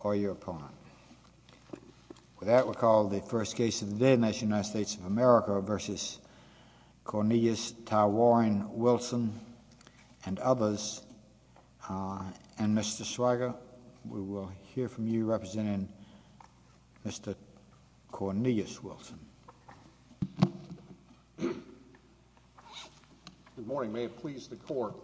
or your opponent. With that we'll call the first case of the day in the United States of America v. Cornelius Ty Warren Wilson and others. And Mr. Schweiger, we will hear from you representing Mr. Cornelius Wilson. Good morning, may it please the court.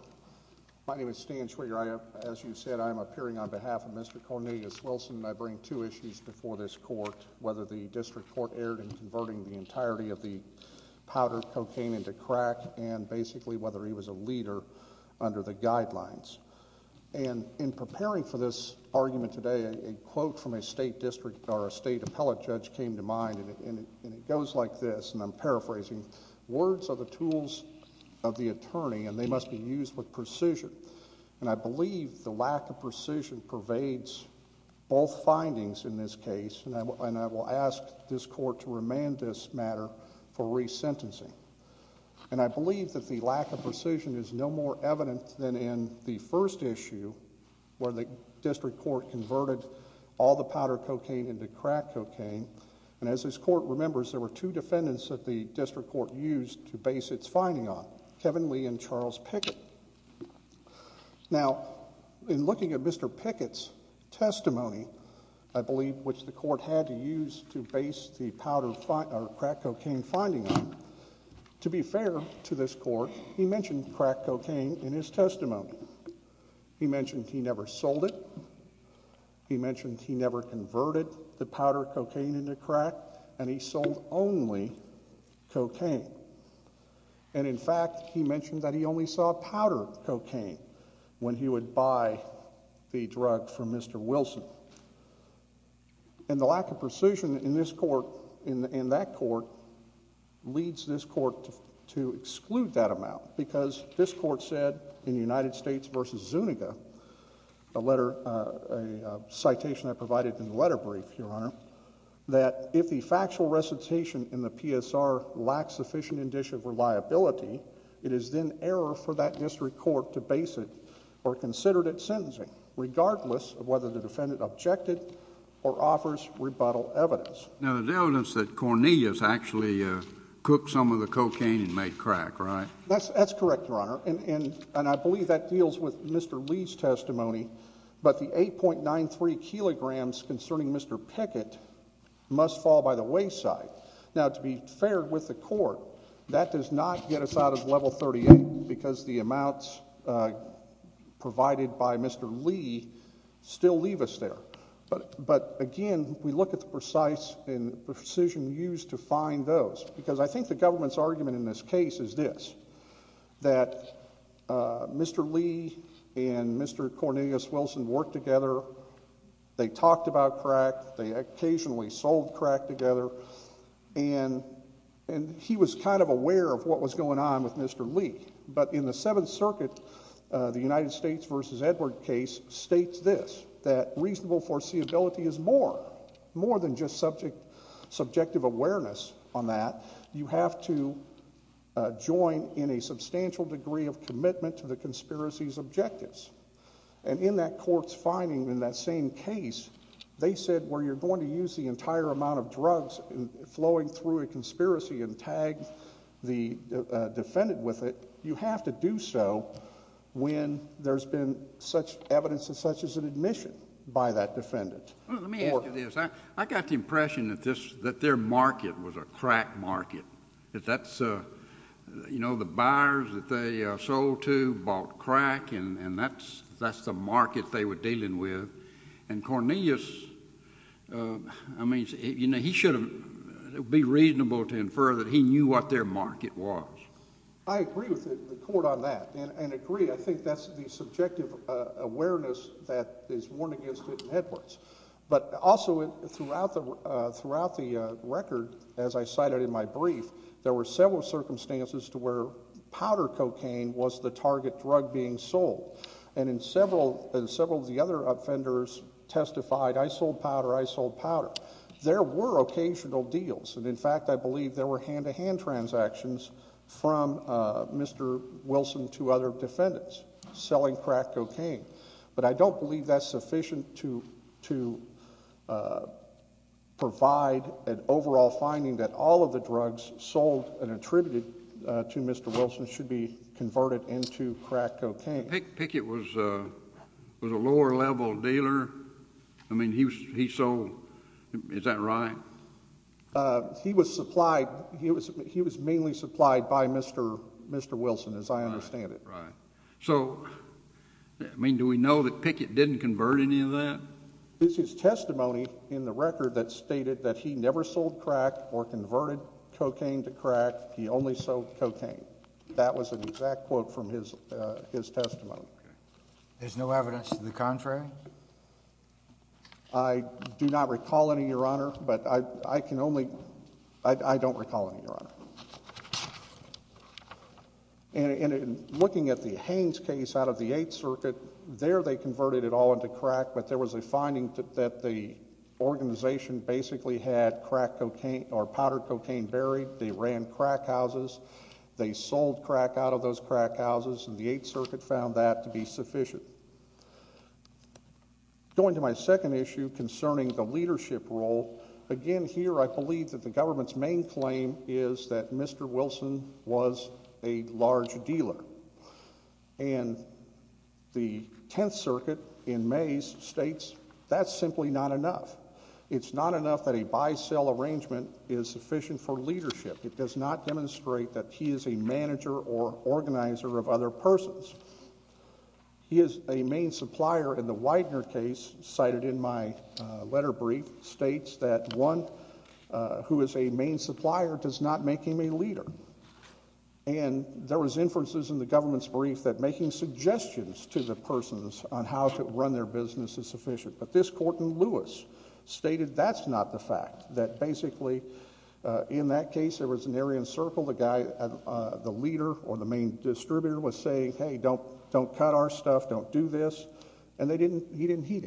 My name is Stan Schweiger and I'm here on behalf of Mr. Cornelius Wilson and I bring two issues before this court. Whether the district court erred in converting the entirety of the powdered cocaine into crack and basically whether he was a leader under the guidelines. And in preparing for this argument today, a quote from a state district or a state appellate judge came to mind and it goes like this, and I'm paraphrasing, words are the tools of the attorney and they must be used with precision. And I believe the lack of precision pervades both findings in this case and I will ask this court to remand this matter for resentencing. And I believe that the lack of precision is no more evident than in the first issue where the district court converted all the powdered cocaine into crack cocaine. And as this court remembers, there were two defendants that the district court used to base its finding on, Kevin Lee and Charles Pickett. Now, in looking at Mr. Pickett's testimony, I believe which the court had to use to base the crack cocaine finding on, to be fair to this court, he mentioned crack cocaine in his testimony. He mentioned he never sold it. He mentioned he never converted the powdered cocaine into crack and he sold only cocaine. And in fact, he mentioned that he only saw powdered cocaine when he would buy the drug from Mr. Wilson. And the lack of precision in this court and that court leads this court to exclude that amount because this court said in United States v. Zuniga, a citation I provided in the letter brief, Your Honor, that if the factual recitation in the PSR lacks sufficient indicia of reliability, it is then error for that district court to base it or consider it sentencing, regardless of whether the defendant objected or offers rebuttal evidence. Now, there's evidence that Cornelius actually cooked some of the cocaine and made crack, right? That's correct, Your Honor. And I believe that deals with Mr. Lee's testimony, but the 8.93 kilograms concerning Mr. Pickett must fall by the wayside. Now, to be fair with the court, that does not get us out of Level 38 because the amounts provided by Mr. Lee still leave us there. But again, we look at the precise and precision used to find those because I think the government's argument in this case is this, that Mr. Lee and Mr. Cornelius Wilson worked together. They talked about crack. They occasionally sold crack together. And he was kind of aware of what was going on with Mr. Lee. But in the Seventh Circuit, the United States v. Edward case states this, that reasonable foreseeability is more than just subjective awareness on that. You have to join in a substantial degree of commitment to the conspiracy's objectives. And in that court's ruling in that same case, they said where you're going to use the entire amount of drugs flowing through a conspiracy and tag the defendant with it, you have to do so when there's been such evidence of such as an admission by that defendant. Let me ask you this. I got the impression that their market was a crack market. That's... you know, the buyers that they sold to bought crack and that's the market they were dealing with. And Cornelius, I mean, you know, he should have... it would be reasonable to infer that he knew what their market was. I agree with the court on that and agree. I think that's the subjective awareness that is worn against it in Edwards. But also throughout the record, as I cited in my brief, there were several circumstances to where powder cocaine was the target drug being sold. And several of the other offenders testified, I sold powder, I sold powder. There were occasional deals. And in fact, I believe there were hand-to-hand transactions from Mr. Wilson to other defendants selling crack cocaine. But I don't believe that's sufficient to provide an overall finding that all of the drugs sold and attributed to Mr. Wilson should be converted into crack cocaine. Pickett was a lower-level dealer. I mean, he sold... is that right? He was supplied... he was mainly supplied by Mr. Wilson, as I understand it. Right. So, I mean, do we know that Pickett didn't convert any of that? It's his testimony in the record that stated that he never sold crack or converted cocaine to crack. He only sold cocaine. That was an exact quote from his testimony. There's no evidence to the contrary? I do not recall any, Your Honor, but I can only... I don't recall any, Your Honor. And in looking at the Haynes case out of the Eighth Circuit, there they converted it all into crack, but there was a finding that the organization basically had powdered cocaine buried. They ran crack houses. They sold crack out of those crack houses, and the Eighth Circuit found that to be sufficient. Going to my second issue concerning the leadership role, again, here I believe that the government's main claim is that Mr. Wilson was a large dealer, and the Tenth Circuit in May states that's simply not enough. It's not enough that a buy-sell arrangement is sufficient for leadership. It does not demonstrate that he is a manager or organizer of other persons. He is a main supplier, and the Widener case cited in my letter brief states that one who is a main supplier does not make him a leader. And there was inferences in the government's brief that making suggestions to the persons on how to run their business is not sufficient for leadership. And I believe that Mr. Wilson stated that's not the fact, that basically in that case there was an area in the circle the leader or the main distributor was saying, hey, don't cut our stuff, don't do this, and he didn't heed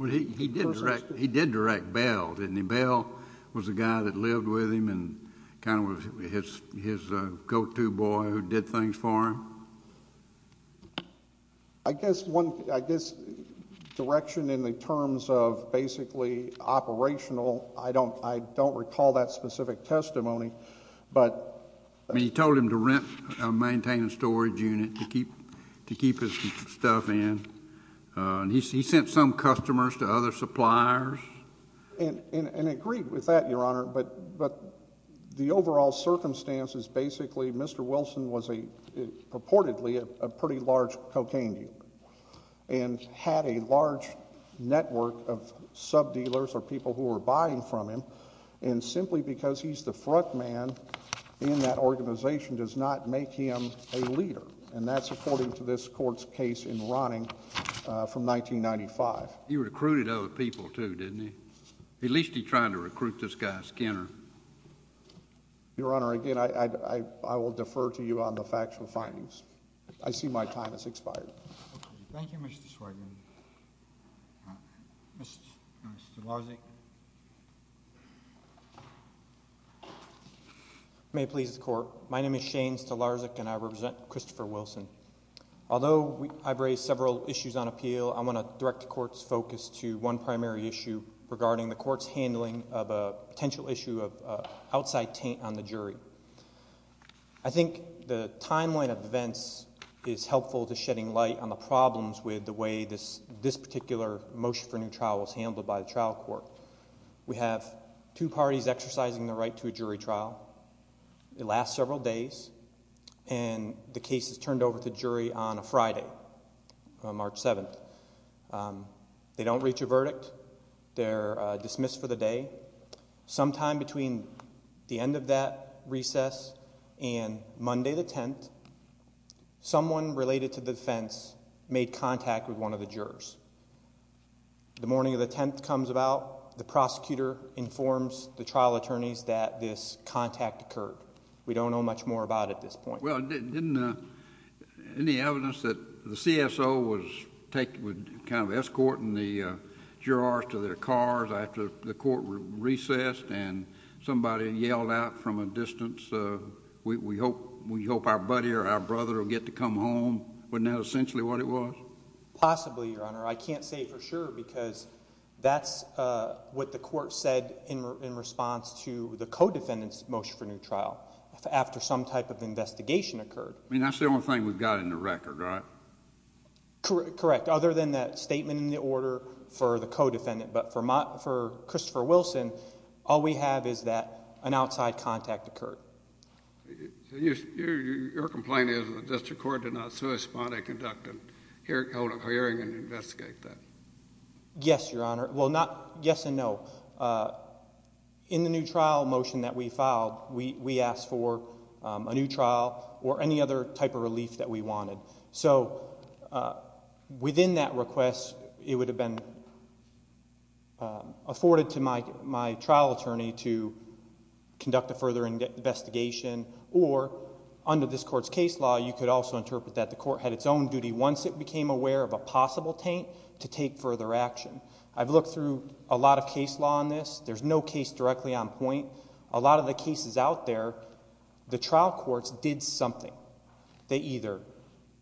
it. He did direct bail, didn't he? Bail was the guy that lived with him and kind of was his go-to boy who did things for him. I guess direction in the terms of basically operational, I don't recall that specific testimony, but... He told him to maintain a storage unit to keep his stuff in. He sent some customers to other suppliers. And agreed with that, Your Honor, but the overall circumstance is basically Mr. Wilson was purportedly a pretty large cocaine dealer and had a large network of sub-dealers or people who were buying from him. And simply because he's the front man in that organization does not make him a leader. And that's according to this court's case in Rodding from 1995. He recruited other people, too, didn't he? At least he tried to recruit this guy Skinner. Your Honor, again, I will defer to you on the factual findings. I see my time has expired. Thank you, Mr. Swertman. Mr. Stelarczyk. May it please the Court. My name is Shane Stelarczyk and I represent Christopher Wilson. Although I've raised several issues on appeal, I want to direct the Court's focus to one primary issue regarding the Court's handling of a potential issue of outside taint on the jury. I think the timeline of events is helpful to shedding light on the problems with the way this particular motion for new trial was handled by the trial court. We have two parties exercising the right to a jury trial. It lasts several days and the case is turned over to the jury on a Friday, March 7th. They don't reach a verdict. They're dismissed for the day. Sometime between the end of that recess and Monday the 10th, someone related to the defense made contact with one of the jurors. The morning of the 10th comes about, the prosecutor informs the trial attorneys that this contact occurred. We don't know much more about it at this point. Well, didn't any evidence that the CSO was kind of escorting the jurors to their cars after the Court recessed and somebody yelled out from a distance, we hope our buddy or our brother will get to come home? Wasn't that essentially what it was? Possibly, Your Honor. I can't say for sure because that's what the Court said in response to the co-defendant's motion for new trial after some type of investigation occurred. I mean, that's the only thing we've got in the record, right? Correct. Other than that statement in the order for the co-defendant. But for Christopher Wilson, all we have is that an outside contact occurred. Your complaint is that the District Court did not hold a hearing and investigate that? Yes, Your Honor. Well, not yes and no. In the new trial motion that we filed, we asked for a new trial or any other type of relief that we wanted. Within that request, it would have been afforded to my trial attorney to conduct a further investigation or under this Court's case law, you could also interpret that the Court had its own duty once it became aware of a possible taint to take further action. I've looked through a lot of case law on this. There's no case directly on point. A lot of the cases out there, the trial courts did something. They either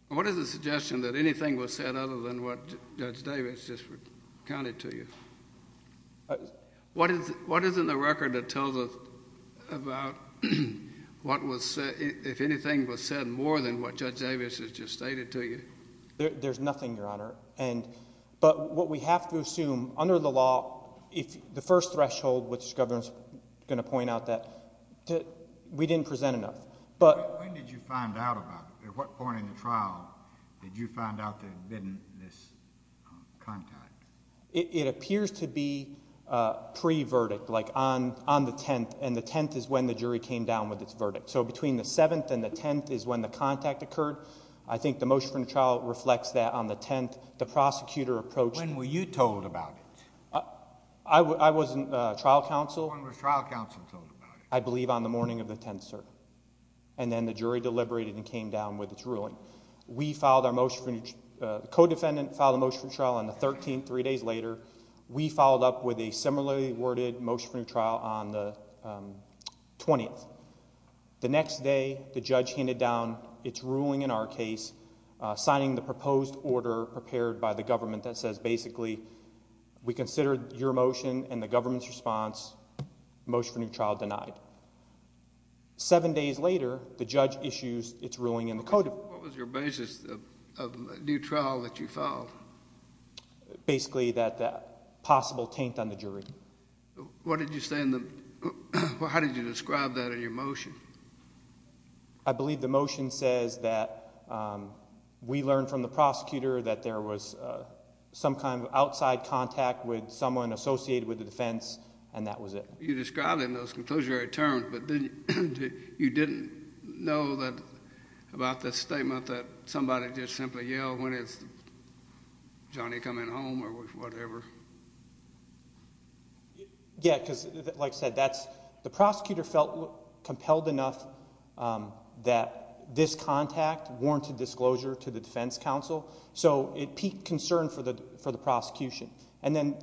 What is the suggestion that anything was said other than what Judge Davis just recounted to you? What is in the record that tells us about if anything was said more than what Judge Davis has just stated to you? There's nothing, Your Honor. But what we have to assume under the law, the first threshold, which the Governor's going to point out that we didn't present enough. When did you find out about it? At what point in the trial did you find out that there had been this contact? It appears to be pre-verdict, like on the 10th, and the 10th is when the jury came down with its verdict. So between the 7th and the 10th is when the contact occurred. I think the motion from the trial reflects that on the 10th, the prosecutor approached When were you told about it? I was in trial counsel. When was trial counsel told about it? I believe on the morning of the 10th, sir. And then the jury deliberated and came down with its ruling. We filed our motion. The co-defendant filed a motion for trial on the 13th, three days later. We followed up with a similarly worded motion for trial on the 20th. The next day, the judge handed down its ruling in our case, signing the proposed order prepared by the government that says basically we consider your motion and the government's response motion for new trial denied. Seven days later, the judge issues its ruling in the code. What was your basis of new trial that you filed? Basically that possible taint on the jury. What did you say in the how did you describe that in your motion? I believe the motion says that we learned from the prosecutor that there was some kind of outside contact with someone associated with the defense and that was it. You described it in those conclusory terms but you didn't know that about the statement that somebody just simply yelled when is Johnny coming home or whatever? Yeah, because like I said, the prosecutor felt compelled enough that this contact warranted to the defense counsel so it piqued concern for the prosecution and then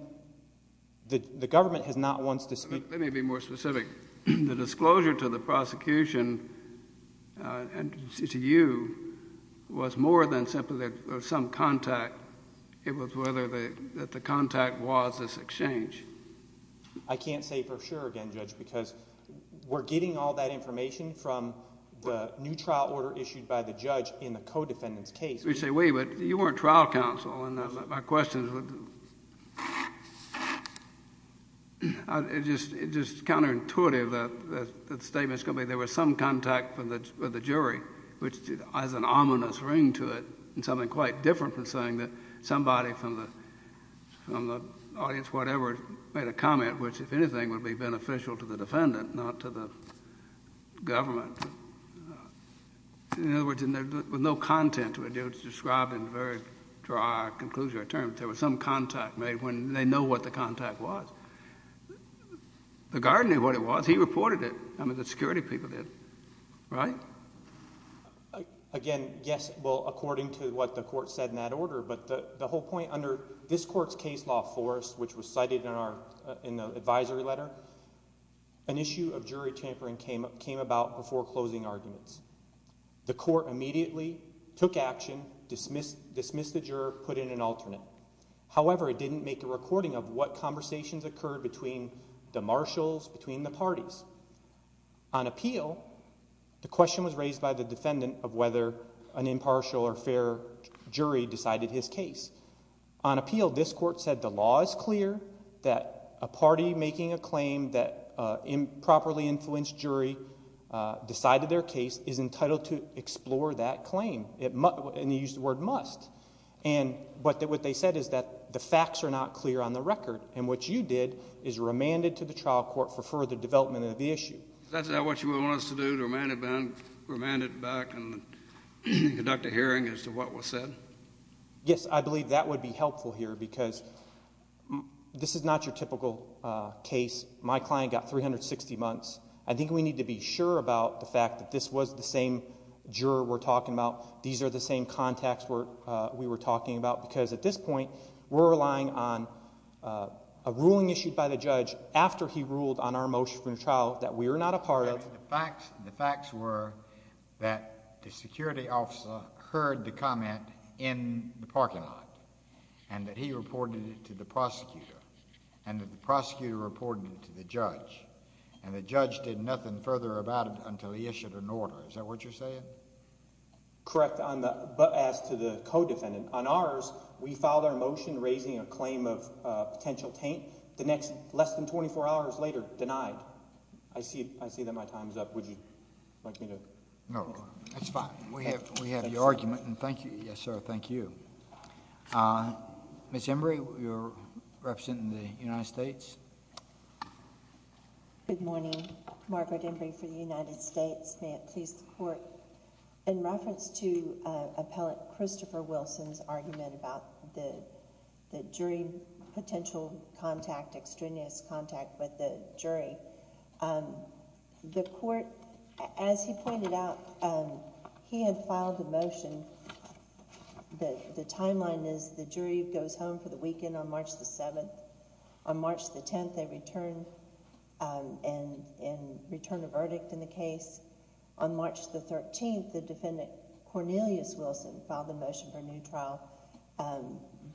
the government has not once discussed Let me be more specific. The disclosure to the prosecution and to you was more than simply that there was some contact. It was whether the contact was this exchange. I can't say for sure again, Judge, because we're getting all that information from the new trial order issued by the judge in the co-defendant's case. You say we, but you weren't trial counsel and my question is it's just counterintuitive that the statement is going to be there was some contact with the jury which has an ominous ring to it and something quite different from saying that somebody from the audience whatever made a comment which if anything would be beneficial to the defendant, not to the government. In other words, there was no content to describe in very dry conclusion or terms. There was some contact made when they know what the contact was. The guard knew what it was. He reported it. I mean, the security people did. Right? Again, yes. Well, according to what the court said in that order, but the whole point under this court's case law force, which was cited in the advisory letter, an issue of foreclosing arguments. The court immediately took action dismissed the juror, put in an alternate. However, it didn't make a recording of what conversations occurred between the marshals, between the parties. On appeal, the question was raised by the defendant of whether an impartial or fair jury decided his case. On appeal, this court said the law is clear that a party making a claim that improperly decided their case is entitled to explore that claim. And they used the word must. And what they said is that the facts are not clear on the record. And what you did is remanded to the trial court for further development of the issue. Is that what you want us to do? Remand it back and conduct a hearing as to what was said? Yes, I believe that would be helpful here because this is not your typical case. My client got 360 months. I think we need to be sure about the fact that this was the same juror we're talking about. These are the same contacts we were talking about. Because at this point, we're relying on a ruling issued by the judge after he ruled on our motion for a trial that we are not a part of. The facts were that the security officer heard the comment in the parking lot. And that he reported it to the prosecutor. And that the judge did nothing further about it until he issued an order. Is that what you're saying? Correct. But as to the co-defendant, on ours, we filed our motion raising a claim of potential taint. The next less than 24 hours later, denied. I see that my time is up. Would you like me to? No. That's fine. We have your argument. And thank you. Yes, sir. Thank you. Ms. Embree, you're representing the United States. Good morning. Margaret Embree for the United States. May it please the court. In reference to appellate Christopher Wilson's argument about the jury potential contact, extraneous contact with the jury, the court, as he pointed out, he had filed the motion that the timeline is the jury goes home for the weekend on March the 7th. On March the 10th, they return and return a verdict in the case. On March the 13th, the defendant, Cornelius Wilson, filed a motion for a new trial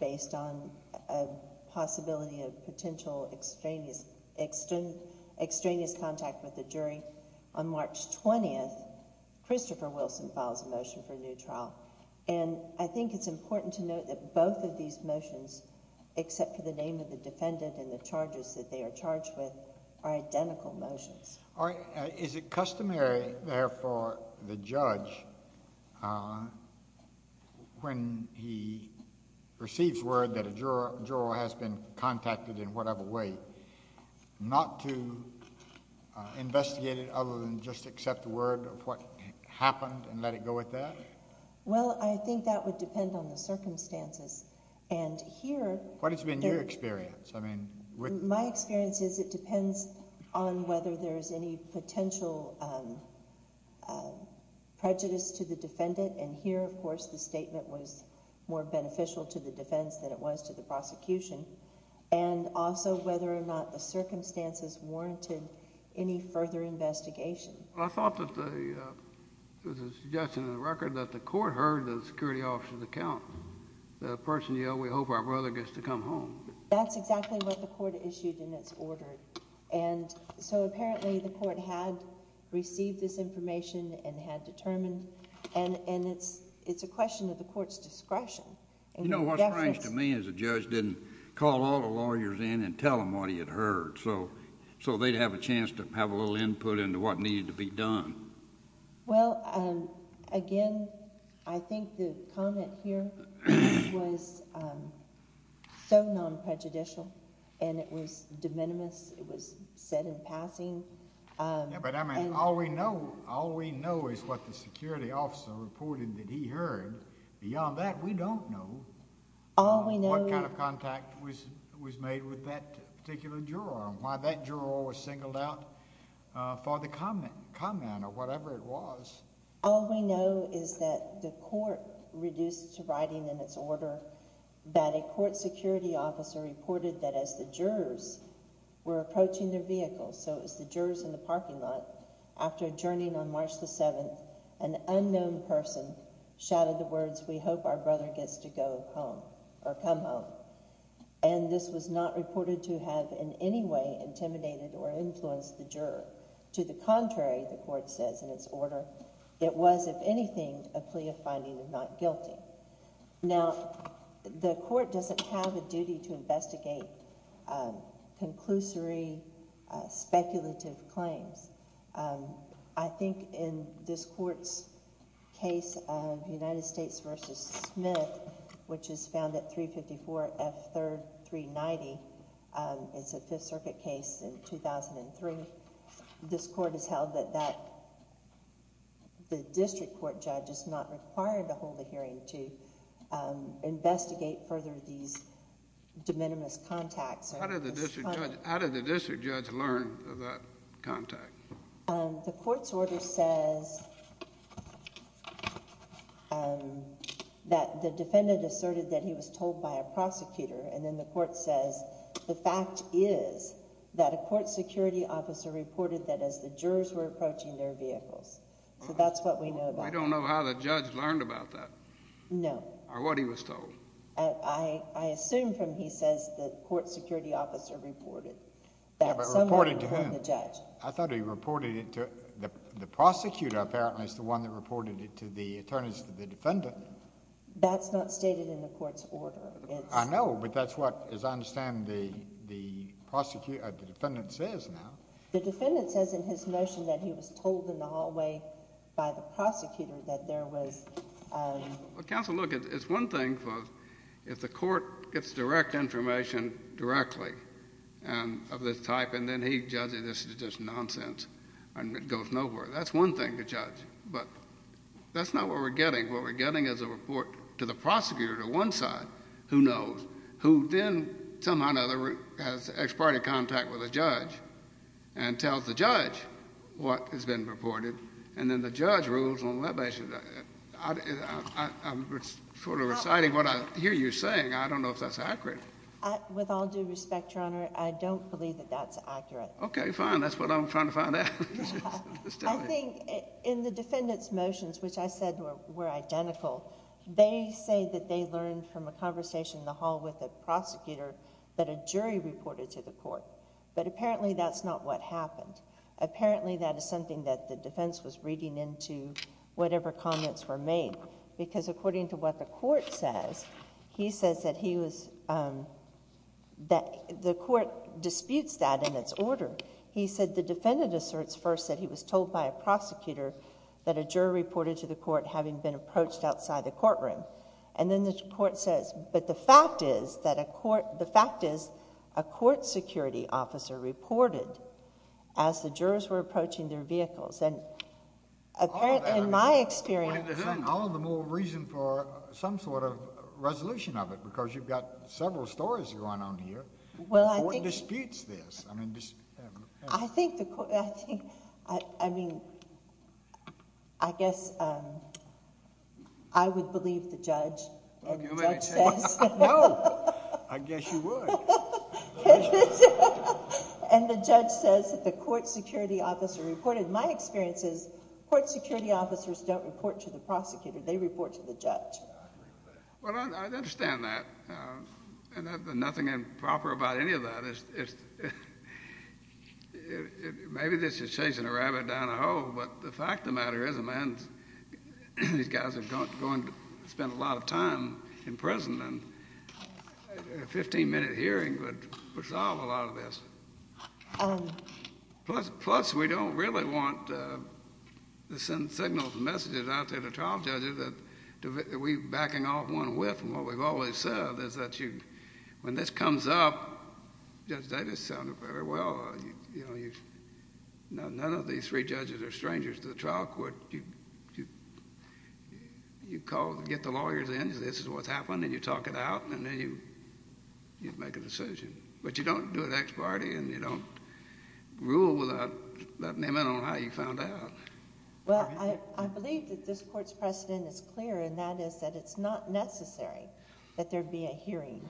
based on a possibility of potential extraneous contact with the jury. On March 20th, Christopher Wilson files a motion for a new trial. And I think it's important to note that both of these motions, except for the name of the defendant and the charges that they are charged with, are identical motions. Is it customary, therefore, the judge when he receives word that a juror has been contacted in whatever way, not to investigate it other than just accept the word of what happened and let it go at that? Well, I think that would depend on the circumstances. And here... What has been your experience? I mean... My experience is it depends on whether there's any potential prejudice to the defendant. And here, of course, the statement was more beneficial to the defense than it was to the prosecution. And also whether or not the circumstances warranted any further investigation. I thought that the... there's a suggestion in the security officer's account. The person yelled, we hope our brother gets to come home. That's exactly what the court issued in its order. And so apparently the court had received this information and had determined. And it's a question of the court's discretion. You know, what's strange to me is the judge didn't call all the lawyers in and tell them what he had heard. So they'd have a chance to have a little input into what needed to be done. Well, again, I think the comment here was so non-prejudicial and it was de minimis. It was said in passing. Yeah, but I mean, all we know is what the security officer reported that he heard. Beyond that, we don't know what kind of contact was made with that particular juror and why that juror was singled out for the comment or whatever it was. All we know is that the court reduced to writing in its order that a court security officer reported that as the jurors were approaching their vehicles, so it was the jurors in the parking lot, after adjourning on March the 7th, an unknown person shouted the words, we hope our brother gets to go home or come home. And this was not reported to have in any way intimidated or influenced the juror. To the contrary, the court says in its order, it was, if anything, a plea of finding him not guilty. Now, the court doesn't have a duty to investigate conclusory, speculative claims. I think in this court's case of United States v. Smith, which is found at 354 F. 3rd 390, it's a Fifth Circuit case in 2003, this court has held that the district court judge is not required to hold a hearing to investigate further these de minimis contacts. How did the district judge learn of that contact? The court's order says that the defendant asserted that he was told by a prosecutor and then the court says the fact is that a court security officer reported that as the jurors were approaching their vehicles. So that's what we know about. I don't know how the judge learned about that. No. Or what he was told. I assume from what he says that the court security officer reported that someone informed the judge. Yeah, but reported to whom? I thought he reported it to the prosecutor apparently. It's the one that reported it to the attorneys to the defendant. That's not stated in the court's order. I know, but that's what, as I understand, the defendant says now. The defendant says in his motion that he was told in the hallway by the prosecutor that there was Well, counsel, look, it's one thing if the court gets direct information directly of this type and then he judges this is just nonsense and it goes nowhere. That's one thing to judge. But that's not what we're getting. What we're getting is a report to the prosecutor, to one side, who knows, who then somehow or another has ex parte contact with a judge and tells the judge what has been reported and then the judge rules on that basis. I'm sort of reciting what I hear you saying. I don't know if that's accurate. With all due respect, Your Honor, I don't believe that that's accurate. Okay, fine. That's what I'm trying to find out. I think in the defendant's motions, which I said were identical, they say that they learned from a conversation in the hall with a prosecutor that a jury reported to the court. But apparently that's not what happened. Apparently that is something that the defense was reading into whatever comments were made because according to what the court says, he says that he was that the court disputes that in its order. He said the defendant asserts first that he was told by a prosecutor that a juror reported to the court having been approached outside the courtroom. And then the court says, but the fact is a court security officer reported as the jurors were approaching their vehicles. And apparently in my experience... All the more reason for some sort of resolution of it because you've got several stories going on here. Well, I think... The court disputes this. I mean... I guess I would believe the judge. No, I guess you would. And the judge says that the court security officer reported. My experience is court security officers don't report to the prosecutor. They report to the judge. Well, I understand that. And there's nothing improper about any of that. Maybe this is chasing a rabbit down a hole, but the fact of the matter is these guys are going to spend a lot of time in prison and a 15-minute hearing would solve a lot of this. Plus, we don't really want to send signals and messages out there to trial judges that we're backing off one whip. And what we've always said is that when this comes up, Judge Davis sounded very well. None of these three judges are strangers to the trial court. You get the lawyers in. This is what's happening. You talk it out, and then you make a decision. But you don't do it ex parte, and you don't rule without an amendment on how you found out. Well, I believe that this Court's precedent is clear, and that is that it's not necessary that there be a hearing.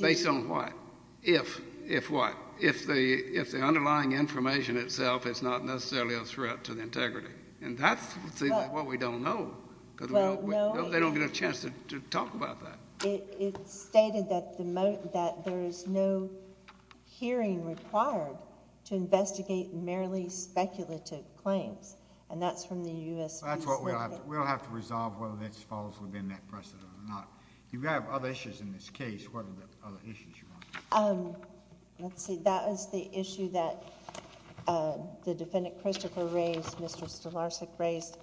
Based on what? If what? If the underlying information itself is not necessarily a threat to the integrity. And that's what we don't know, because they don't get a chance to talk about that. It's stated that there is no hearing required to investigate merely speculative claims, and that's from the U.S. Peace Committee. We'll have to resolve whether that falls within that precedent or not. If you have other issues in this case, what are the other issues? Let's see. That is the issue that the Defendant Christopher raised, Mr. Stelarczyk raised.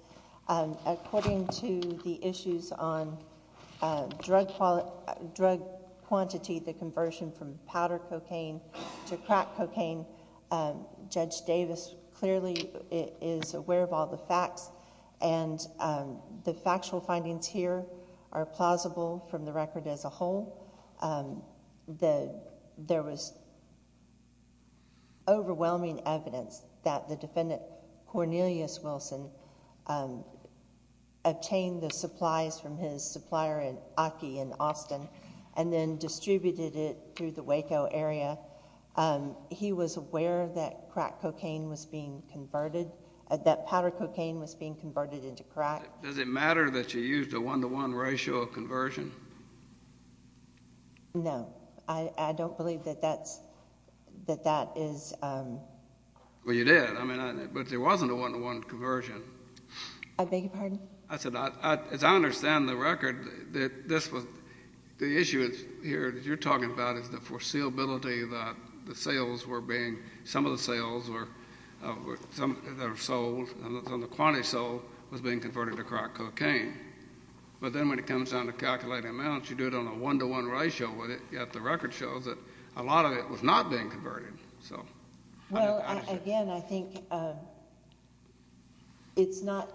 According to the issues on drug quantity, the conversion from powder cocaine to crack cocaine, Judge Davis clearly is aware of all the facts, and the factual from the record as a whole. There was overwhelming evidence that the Defendant Cornelius Wilson obtained the supplies from his supplier in Aki in Austin and then distributed it through the Waco area. He was aware that crack cocaine was being converted, that powder cocaine was being converted into crack. Does it matter that you used a one-to-one ratio of conversion? No. I don't believe that that is Well, you did, but there wasn't a one-to-one conversion. I beg your pardon? As I understand the record, the issue here that you're talking about is the foreseeability that the sales were being some of the sales were sold and the quantity sold was being converted to crack cocaine. But then when it comes down to calculating amounts, you do it on a one-to-one ratio, yet the record shows that a lot of it was not being converted. Well, again, I think it's not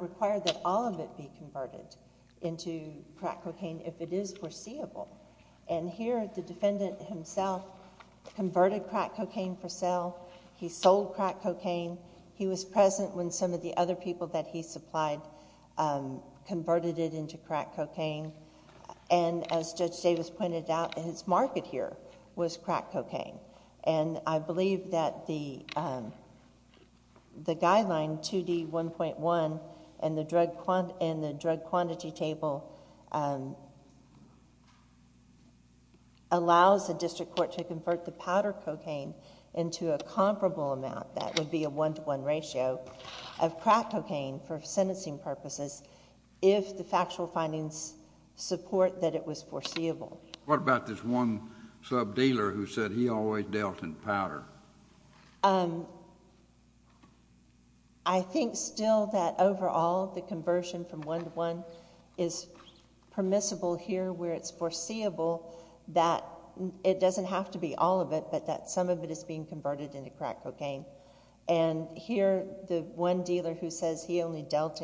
required that all of it be converted into crack cocaine if it is foreseeable. And here, the Defendant himself converted crack cocaine for sale. He sold crack cocaine. He was present when some of the other people that he supplied converted it into crack cocaine. And as Judge Davis pointed out, his market here was crack cocaine. And I believe that the guideline 2D1.1 and the drug quantity table allows the district court to convert the powder cocaine into a comparable amount that would be a one-to-one ratio of crack cocaine for sentencing purposes if the factual findings support that it was foreseeable. What about this one sub-dealer who said he always dealt in powder? I think still that overall the conversion from one-to-one is permissible here where it's foreseeable that it doesn't have to be all of it, but that some of it is being converted into crack cocaine. And here, the one dealer who says he only dealt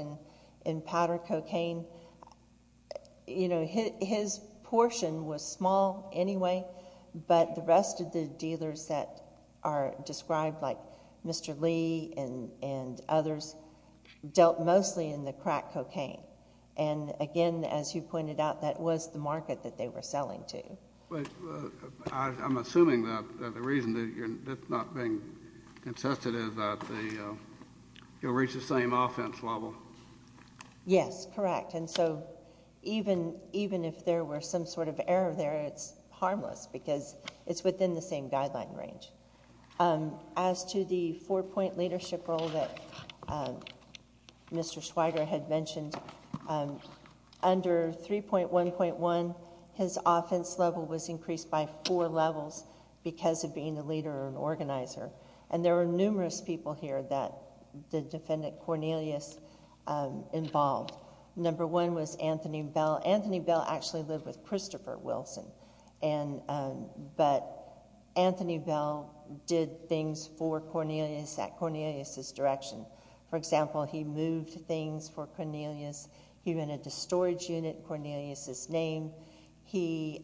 in powder cocaine, his portion was small anyway, but the rest of the dealers that are described, like Mr. Lee and others, dealt mostly in the crack cocaine. And again, as you pointed out, that was the market that they were selling to. I'm assuming that the reason that you're not being contested is that you'll reach the same offense level. Yes, correct. And so even if there were some sort of error there, it's harmless because it's within the same guideline range. As to the four-point leadership role that Mr. Schweiger had mentioned, under 3.1.1, his offense level was increased by four levels because of being the leader and organizer. And there were numerous people here that the defendant, Cornelius, involved. Number one was Anthony Bell. Anthony Bell actually lived with Christopher Wilson. But Anthony Bell did things for Cornelius at Cornelius' direction. For example, he moved things for Cornelius. He rented a storage unit Cornelius' name. He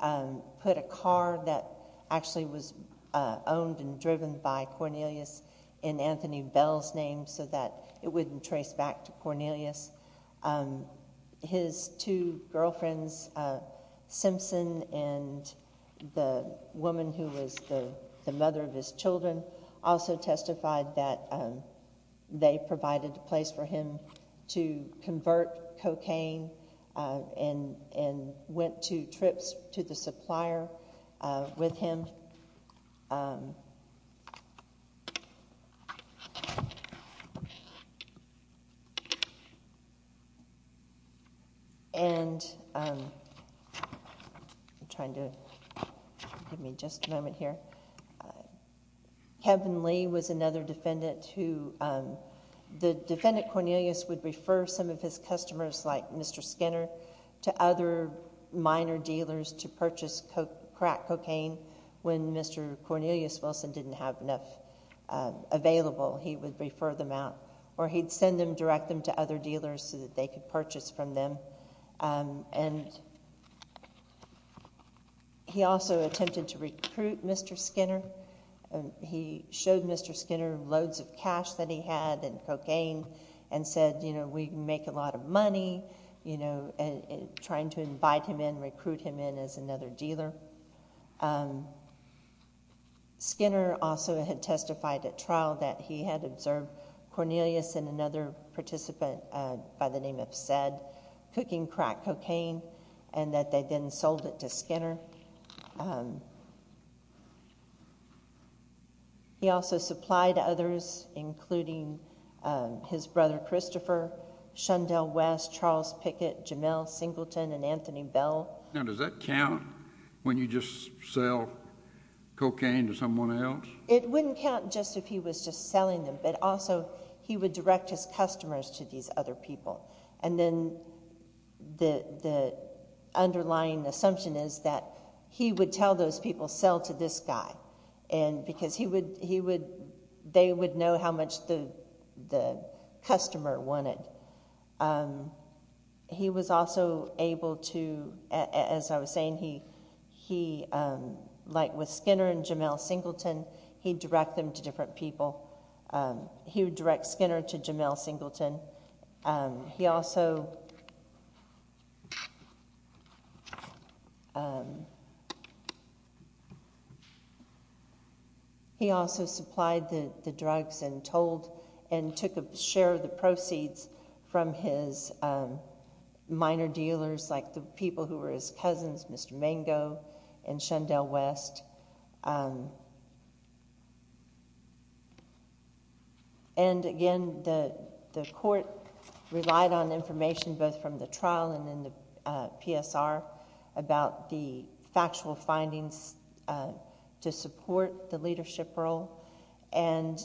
put a car that actually was owned and driven by Cornelius in Anthony Bell's name so that it wouldn't trace back to Cornelius. His two girlfriends, Simpson and the woman who was the mother of his children, also testified that they provided a place for him to convert cocaine and went to trips to the supplier with him. And I'm trying to give me just a moment here. Kevin Lee was another defendant who the defendant, Cornelius, would refer some of his customers, like Mr. Skinner, to other minor dealers to purchase crack cocaine. When Mr. Cornelius Wilson didn't have enough available, he would refer them out. Or he'd send them, direct them to other dealers so that they could purchase from them. And he also attempted to recruit Mr. Skinner. He showed Mr. Skinner loads of cash that he had and cocaine and said, you know, we can make a lot of money, you know, trying to invite him in, recruit him in as another dealer. Skinner also had testified at trial that he had observed Cornelius and another participant by the name of Sed cooking crack cocaine and that they then sold it to Skinner. He also supplied others, including his brother Christopher, Shundell West, Charles Pickett, Jamel Singleton, and Anthony Bell. Now does that count when you just sell cocaine to someone else? It wouldn't count just if he was just selling them, but also he would direct his customers to these other people. And then the underlying assumption is that he would tell those people, sell to this guy. And because he would, they would know how much the customer wanted. He was also able to, as I was saying, he like with Skinner and Jamel Singleton, he'd direct them to different people. He would direct Skinner to Jamel Singleton. He also He also supplied the drugs and took a share of the proceeds from his minor dealers, like the people who were his cousins, Mr. Mango and Shundell West. And again, the court relied on information both from the trial and in the PSR about the factual findings to support the leadership role. And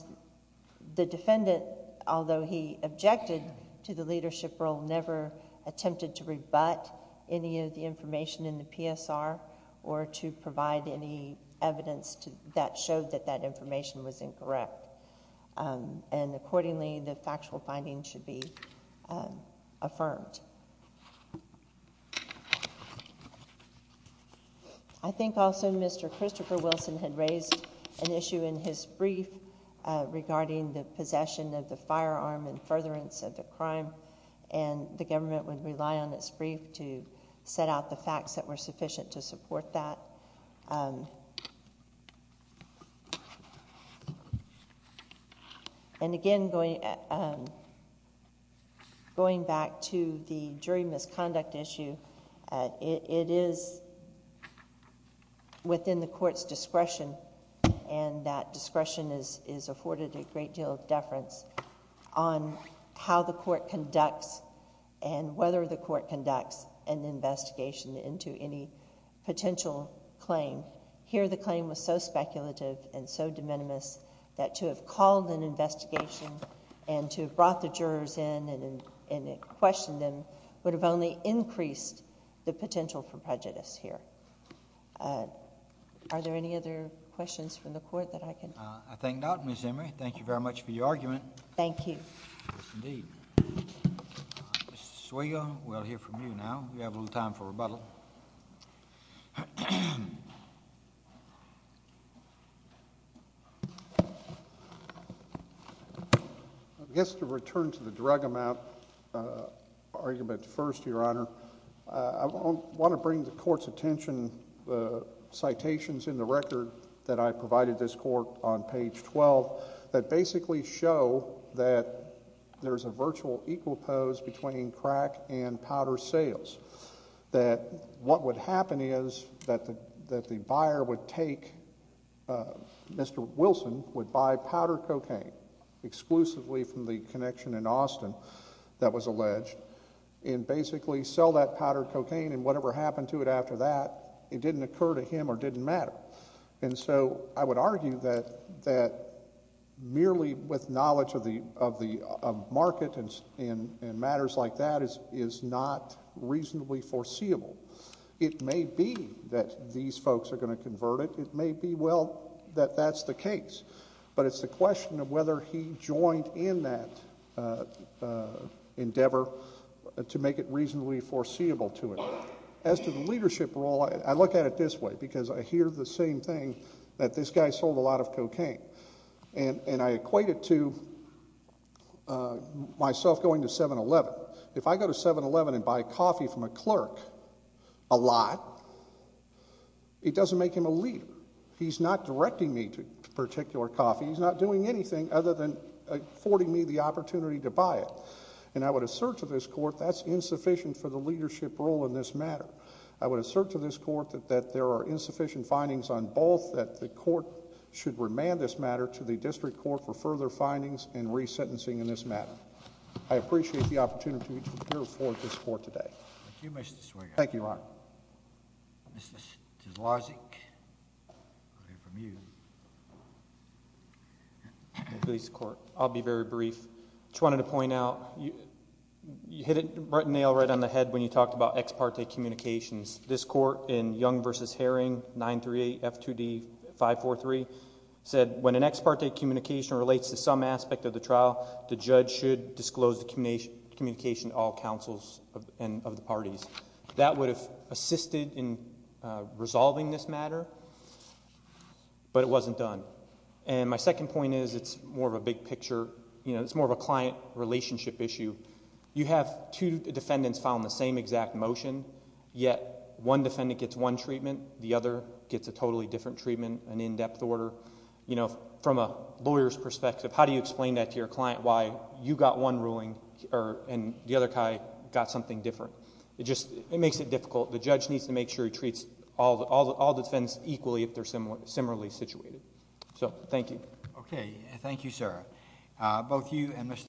the defendant, although he objected to the leadership role, never attempted to rebut any of the information in the PSR or to provide any evidence that showed that information was incorrect. And accordingly, the factual findings should be affirmed. I think also Mr. Christopher Wilson had raised an issue in his brief regarding the possession of the firearm and furtherance of the crime. And the government would rely on its brief to set out the facts that were sufficient to support that. And again, going back to the jury misconduct issue, it is within the court's discretion and that discretion is afforded a great deal of deference on how the court conducts and whether the court conducts an investigation into any potential claim. Here the claim was so speculative and so de minimis that to have called an investigation and to have brought the jurors in and questioned them would have only increased the potential for prejudice here. Are there any other questions from the court that I can...? I think not, Ms. Emory. Thank you very much for your argument. Thank you. Yes, indeed. Mr. Swayga, we'll hear from you now. We have a little time for rebuttal. I guess to return to the drug amount argument first, Your Honor, I want to bring the court's attention, the citations in the record that I provided this court on page 12 that basically show that there's a virtual equal pose between crack and powder sales, that what would happen is that the buyer would take Mr. Wilson would buy powder cocaine exclusively from the connection in Austin that was alleged and basically sell that powder cocaine and whatever happened to it after that it didn't occur to him or didn't matter. And so I would argue that merely with knowledge of the market and matters like that is not reasonably foreseeable. It may be that these folks are going to convert it. It may be, well, that that's the case. But it's the question of whether he joined in that endeavor to make it reasonably foreseeable to it. As to the leadership role, I look at it this way because I hear the same thing that this guy sold a lot of cocaine. And I equate it to myself going to 7-Eleven. If I go to 7-Eleven and buy coffee from a clerk a lot, it doesn't make him a leader. He's not directing me to particular coffee. He's not doing anything other than affording me the opportunity to buy it. And I would assert to this court that's insufficient for the leadership role in this matter. I would assert to this court that there are insufficient findings on both, that the court should remand this matter to the district court for further findings and resentencing in this matter. I appreciate the opportunity to hear from this court today. Thank you, Mr. Swearengin. Thank you, Your Honor. Mr. Zloznik, we'll hear from you. I'll be very brief. I just wanted to point out you hit a nail right on the head when you talked about ex parte communications. This court in Young v. Herring, 938 F2D 543, said when an ex parte communication relates to some aspect of the trial, the judge should disclose the communication to all counsels of the parties. That would have assisted in resolving this matter, but it wasn't done. And my second point is, it's more of a big picture, it's more of a client relationship issue. You have two defendants, yet one defendant gets one treatment, the other gets a totally different treatment, an in-depth order. From a lawyer's perspective, how do you explain that to your client, why you got one ruling and the other guy got something different? It makes it difficult. The judge needs to make sure he treats all defendants equally if they're similarly situated. Thank you. Thank you, sir.